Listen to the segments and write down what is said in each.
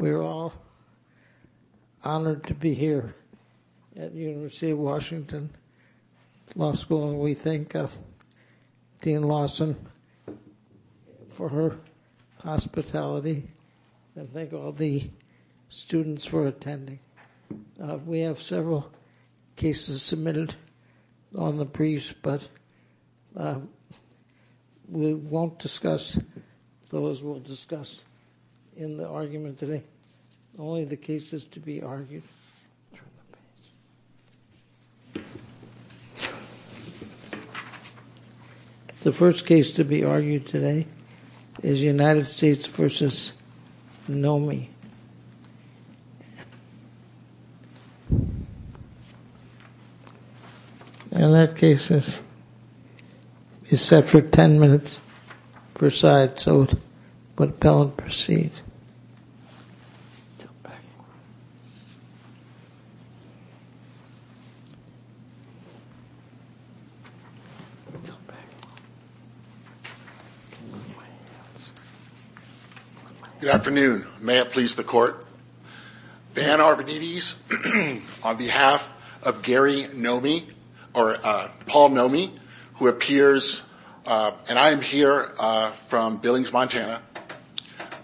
We are all honored to be here at the University of Washington Law School and we thank Dean Lawson for her hospitality and thank all the students for attending. We have several cases submitted on the briefs, but we won't discuss those. We'll discuss in the argument today only the cases to be argued. The first case to be argued today is United States v. Nomee. And that case is set for 10 minutes per side, so would the appellant proceed? Good afternoon. May it please the court. Van Arvanites, on behalf of Gary Nomee, or Paul Nomee, who appears, and I am here from Billings, Montana.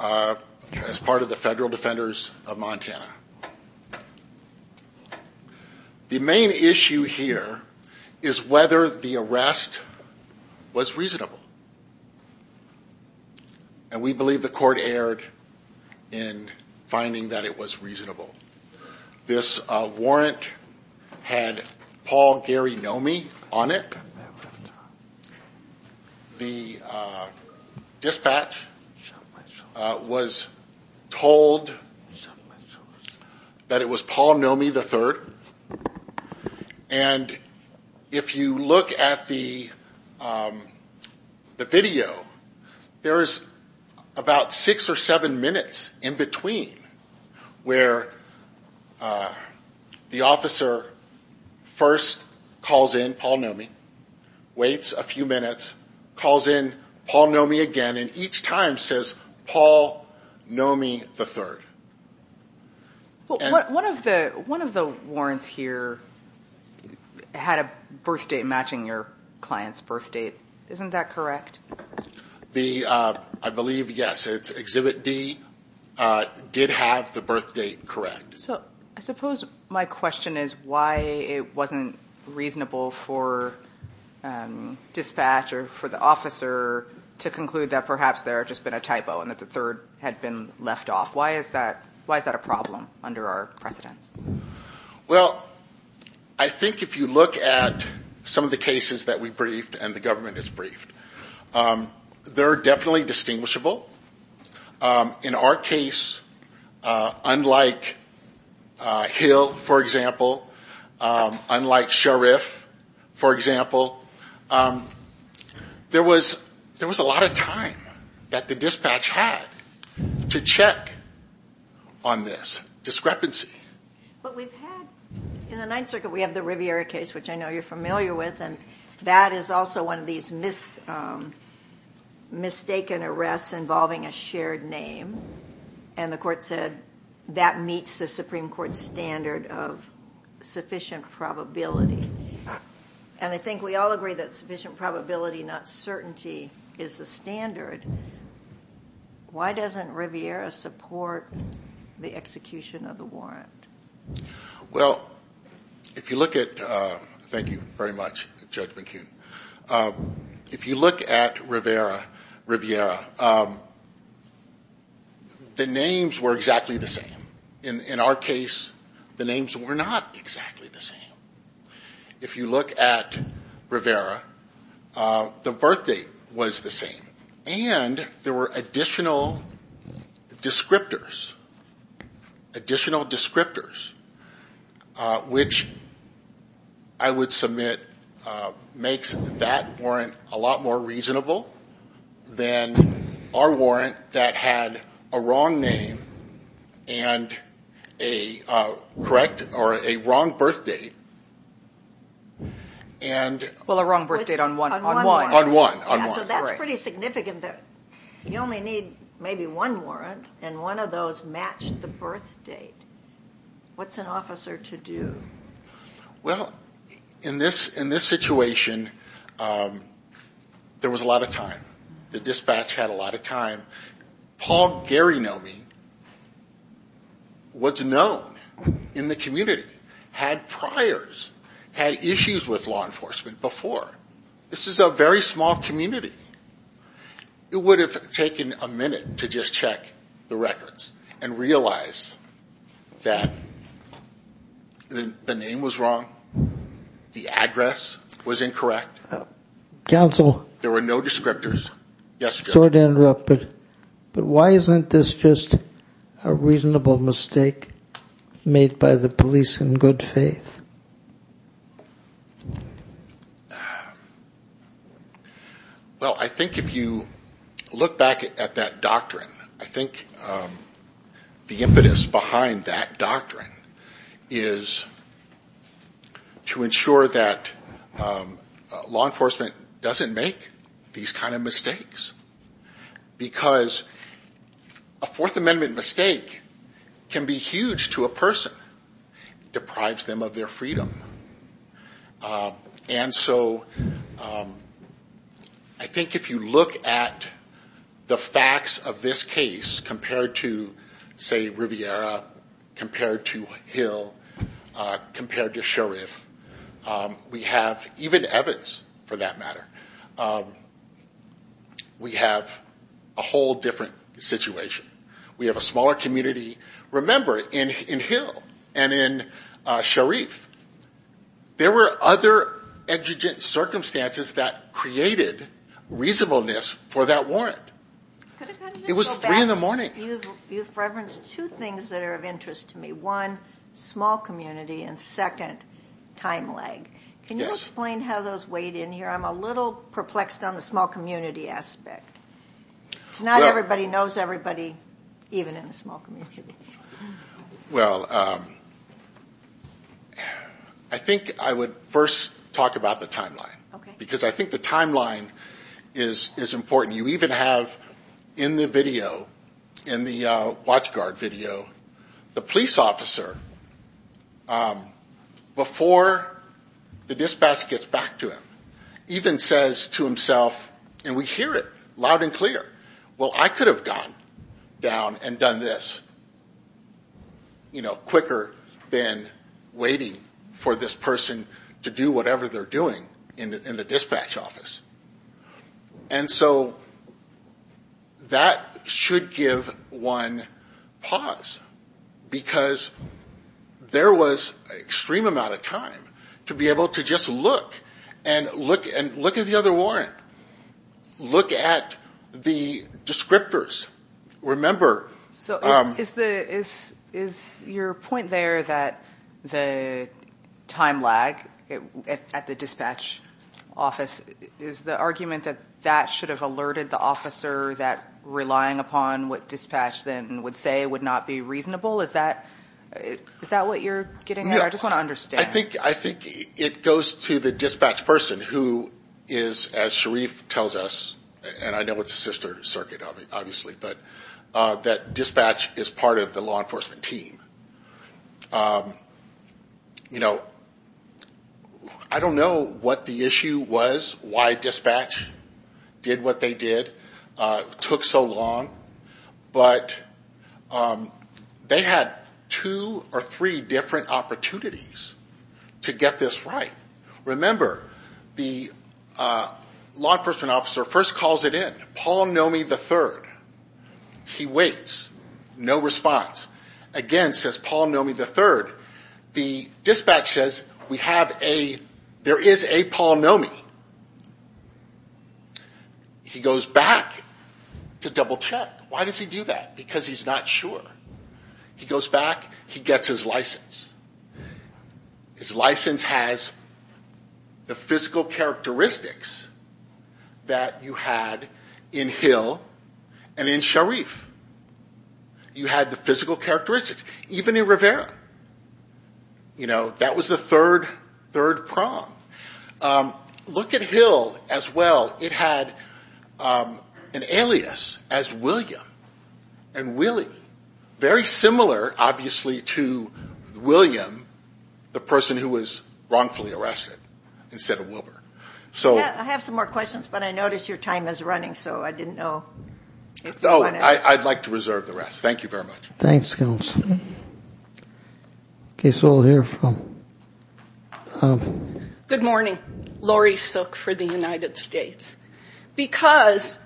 As part of the Federal Defenders of Montana. The main issue here is whether the arrest was reasonable. And we believe the court erred in finding that it was reasonable. This warrant had Paul Gary Nomee on it. The dispatch was told that it was Paul Nomee III. And if you look at the video, there is about six or seven minutes in between where the officer first calls in Paul Nomee, waits a few minutes, calls in Paul Nomee again, and each time says Paul Nomee III. One of the warrants here had a birth date matching your client's birth date. Isn't that correct? I believe, yes. Exhibit D did have the birth date correct. So I suppose my question is why it wasn't reasonable for dispatch or for the officer to conclude that perhaps there had just been a typo and that the third had been left off. Why is that a problem under our precedence? Well, I think if you look at some of the cases that we briefed and the government has briefed, they are definitely distinguishable. In our case, unlike Hill, for example, unlike Shariff, for example, there was a lot of time that the dispatch had to check on this discrepancy. In the Ninth Circuit, we have the Riviera case, which I know you're familiar with, and that is also one of these mistaken arrests involving a shared name. And the court said that meets the Supreme Court standard of sufficient probability. And I think we all agree that sufficient probability, not certainty, is the standard. Why doesn't Riviera support the execution of the warrant? Well, if you look at – thank you very much, Judge McKeon – if you look at Riviera, the names were exactly the same. In our case, the names were not exactly the same. If you look at Riviera, the birth date was the same. And there were additional descriptors, additional descriptors, which I would submit makes that warrant a lot more reasonable than our warrant that had a wrong name and a correct or a wrong birth date. Well, a wrong birth date on one. On one. Yeah, so that's pretty significant that you only need maybe one warrant, and one of those matched the birth date. What's an officer to do? Well, in this situation, there was a lot of time. The dispatch had a lot of time. Paul Garinomi was known in the community, had priors, had issues with law enforcement before. This is a very small community. It would have taken a minute to just check the records and realize that the name was wrong, the address was incorrect. There were no descriptors. Yes, Judge. Sorry to interrupt, but why isn't this just a reasonable mistake made by the police in good faith? Well, I think if you look back at that doctrine, I think the impetus behind that doctrine is to ensure that law enforcement doesn't make these kind of mistakes, because a Fourth Amendment mistake can be huge to a person. It deprives them of their freedom. And so I think if you look at the facts of this case compared to, say, Riviera, compared to Hill, compared to Sheriff, we have, even Evans for that matter, we have a whole different situation. We have a smaller community. Remember, in Hill and in Sheriff, there were other exigent circumstances that created reasonableness for that warrant. It was 3 in the morning. You've referenced two things that are of interest to me. One, small community, and second, time lag. Can you explain how those weighed in here? I'm a little perplexed on the small community aspect. Because not everybody knows everybody, even in the small community. Well, I think I would first talk about the timeline, because I think the timeline is important. You even have in the video, in the watchguard video, the police officer, before the dispatch gets back to him, even says to himself, and we hear it loud and clear, well, I could have gone down and done this quicker than waiting for this person to do whatever they're doing in the dispatch office. And so that should give one pause, because there was an extreme amount of time to be able to just look, and look at the other warrant. Look at the descriptors. So is your point there that the time lag at the dispatch office, is the argument that that should have alerted the officer that relying upon what dispatch then would say would not be reasonable? Is that what you're getting at? I just want to understand. I think it goes to the dispatch person, who is, as Sharif tells us, and I know it's a sister circuit, obviously, but that dispatch is part of the law enforcement team. You know, I don't know what the issue was, why dispatch did what they did, took so long, but they had two or three different opportunities to get this right. Remember, the law enforcement officer first calls it in, Paul Nomi III. He waits. No response. Again, says Paul Nomi III. The dispatch says, we have a, there is a Paul Nomi. He goes back to double check. Why does he do that? Because he's not sure. He goes back. He gets his license. His license has the physical characteristics that you had in Hill and in Sharif. You had the physical characteristics, even in Rivera. You know, that was the third prong. Look at Hill as well. It had an alias as William and Willie. Very similar, obviously, to William, the person who was wrongfully arrested, instead of Wilbur. I have some more questions, but I notice your time is running, so I didn't know. I'd like to reserve the rest. Thank you very much. Thanks, Counsel. Okay, so we'll hear from. Good morning. Lori Sook for the United States. Because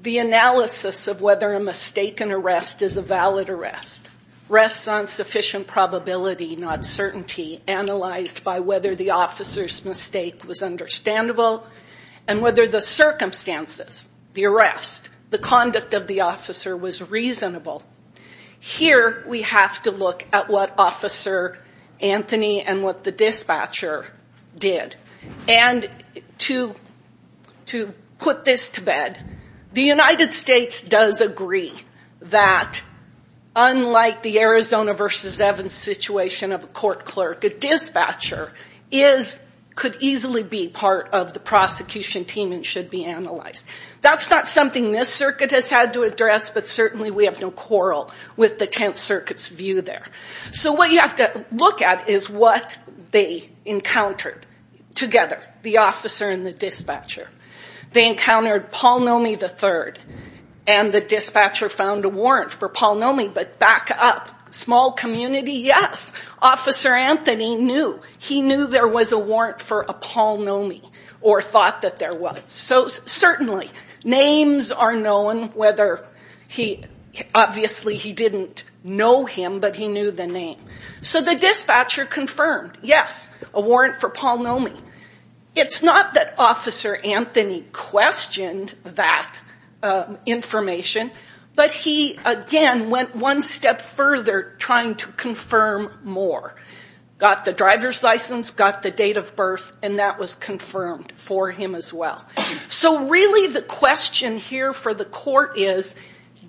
the analysis of whether a mistaken arrest is a valid arrest rests on sufficient probability, not certainty, analyzed by whether the officer's mistake was understandable, and whether the circumstances, the arrest, the conduct of the officer was reasonable. Here we have to look at what Officer Anthony and what the dispatcher did. And to put this to bed, the United States does agree that, unlike the Arizona versus Evans situation of a court clerk, a dispatcher could easily be part of the prosecution team and should be analyzed. That's not something this circuit has had to address, but certainly we have no quarrel with the Tenth Circuit's view there. So what you have to look at is what they encountered together, the officer and the dispatcher. They encountered Paul Nomi III, and the dispatcher found a warrant for Paul Nomi, but back up. Small community, yes. Officer Anthony knew. He knew there was a warrant for a Paul Nomi, or thought that there was. So certainly, names are known, whether he, obviously he didn't know him, but he knew the name. So the dispatcher confirmed, yes, a warrant for Paul Nomi. It's not that Officer Anthony questioned that information, but he, again, went one step further trying to confirm more. Got the driver's license, got the date of birth, and that was confirmed for him as well. So really the question here for the court is,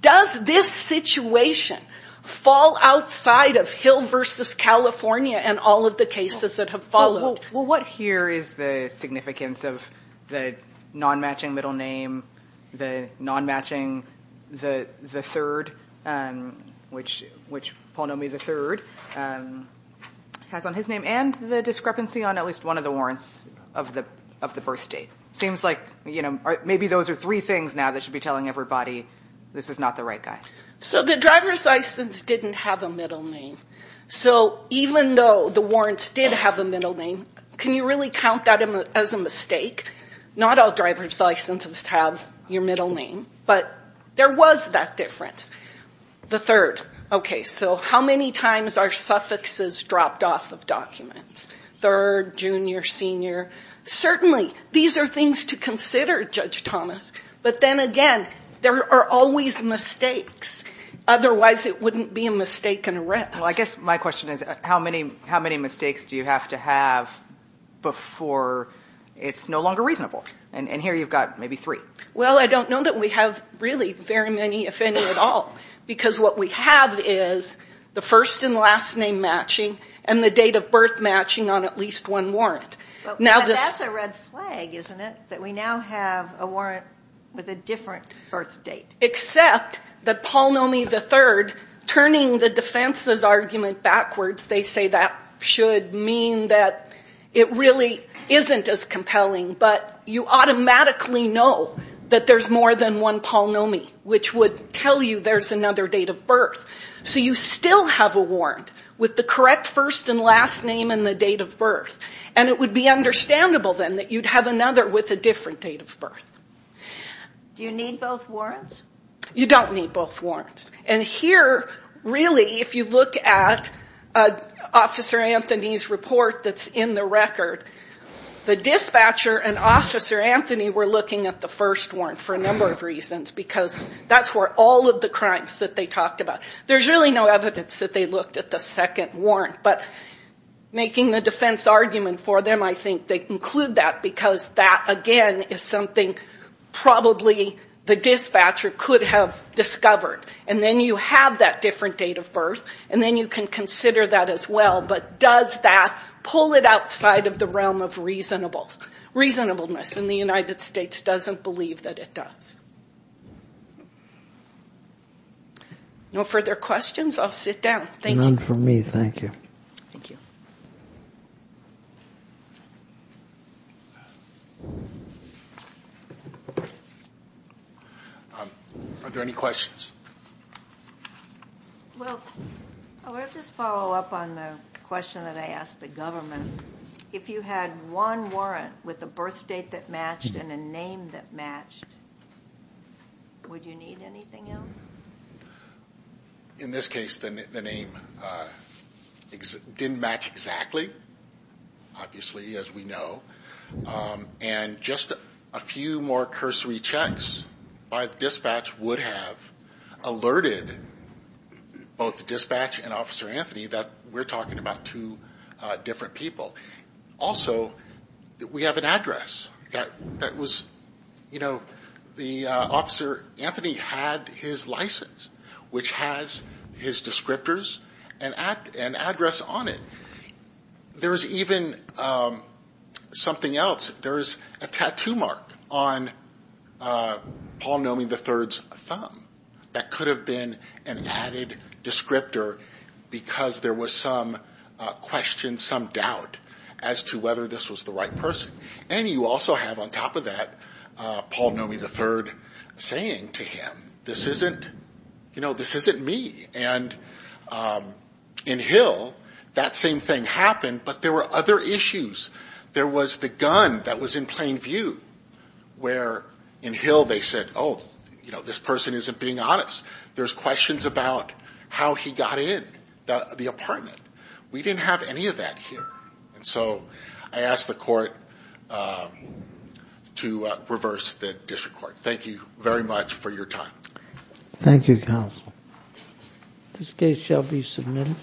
does this situation fall outside of Hill versus California and all of the cases that have followed? Well, what here is the significance of the non-matching middle name, the non-matching the third, which Paul Nomi III has on his name, and the discrepancy on at least one of the warrants of the birth date? It seems like maybe those are three things now that should be telling everybody this is not the right guy. So the driver's license didn't have a middle name. So even though the warrants did have a middle name, can you really count that as a mistake? Not all driver's licenses have your middle name, but there was that difference. The third, okay, so how many times are suffixes dropped off of documents? Third, junior, senior. Certainly, these are things to consider, Judge Thomas, but then again, there are always mistakes. Otherwise, it wouldn't be a mistake and arrest. Well, I guess my question is, how many mistakes do you have to have before it's no longer reasonable? And here you've got maybe three. Well, I don't know that we have really very many, if any at all, because what we have is the first and last name matching and the date of birth matching on at least one warrant. But that's a red flag, isn't it, that we now have a warrant with a different birth date? Except that polynomial the third, turning the defense's argument backwards, they say that should mean that it really isn't as compelling, but you automatically know that there's more than one polynomial, which would tell you there's another date of birth. So you still have a warrant with the correct first and last name and the date of birth. And it would be understandable, then, that you'd have another with a different date of birth. Do you need both warrants? You don't need both warrants. And here, really, if you look at Officer Anthony's report that's in the record, the dispatcher and Officer Anthony were looking at the first warrant for a number of reasons because that's where all of the crimes that they talked about. There's really no evidence that they looked at the second warrant. But making the defense argument for them, I think, they conclude that because that, again, is something probably the dispatcher could have discovered. And then you have that different date of birth, and then you can consider that as well. But does that pull it outside of the realm of reasonableness? And the United States doesn't believe that it does. No further questions? I'll sit down. None for me. Thank you. Thank you. Are there any questions? Well, I want to just follow up on the question that I asked the government. If you had one warrant with a birth date that matched and a name that matched, would you need anything else? In this case, the name didn't match exactly, obviously, as we know. And just a few more cursory checks by the dispatch would have alerted both the dispatch and Officer Anthony that we're talking about two different people. Also, we have an address that was, you know, the Officer Anthony had his license, which has his descriptors and address on it. There is even something else. There is a tattoo mark on Paul Nomi III's thumb that could have been an added descriptor because there was some question, some doubt as to whether this was the right person. And you also have, on top of that, Paul Nomi III saying to him, this isn't, you know, this isn't me. And in Hill, that same thing happened, but there were other issues. There was the gun that was in plain view where in Hill they said, oh, you know, this person isn't being honest. There's questions about how he got in the apartment. We didn't have any of that here. And so I ask the court to reverse the district court. Thank you very much for your time. Thank you, counsel. This case shall be submitted.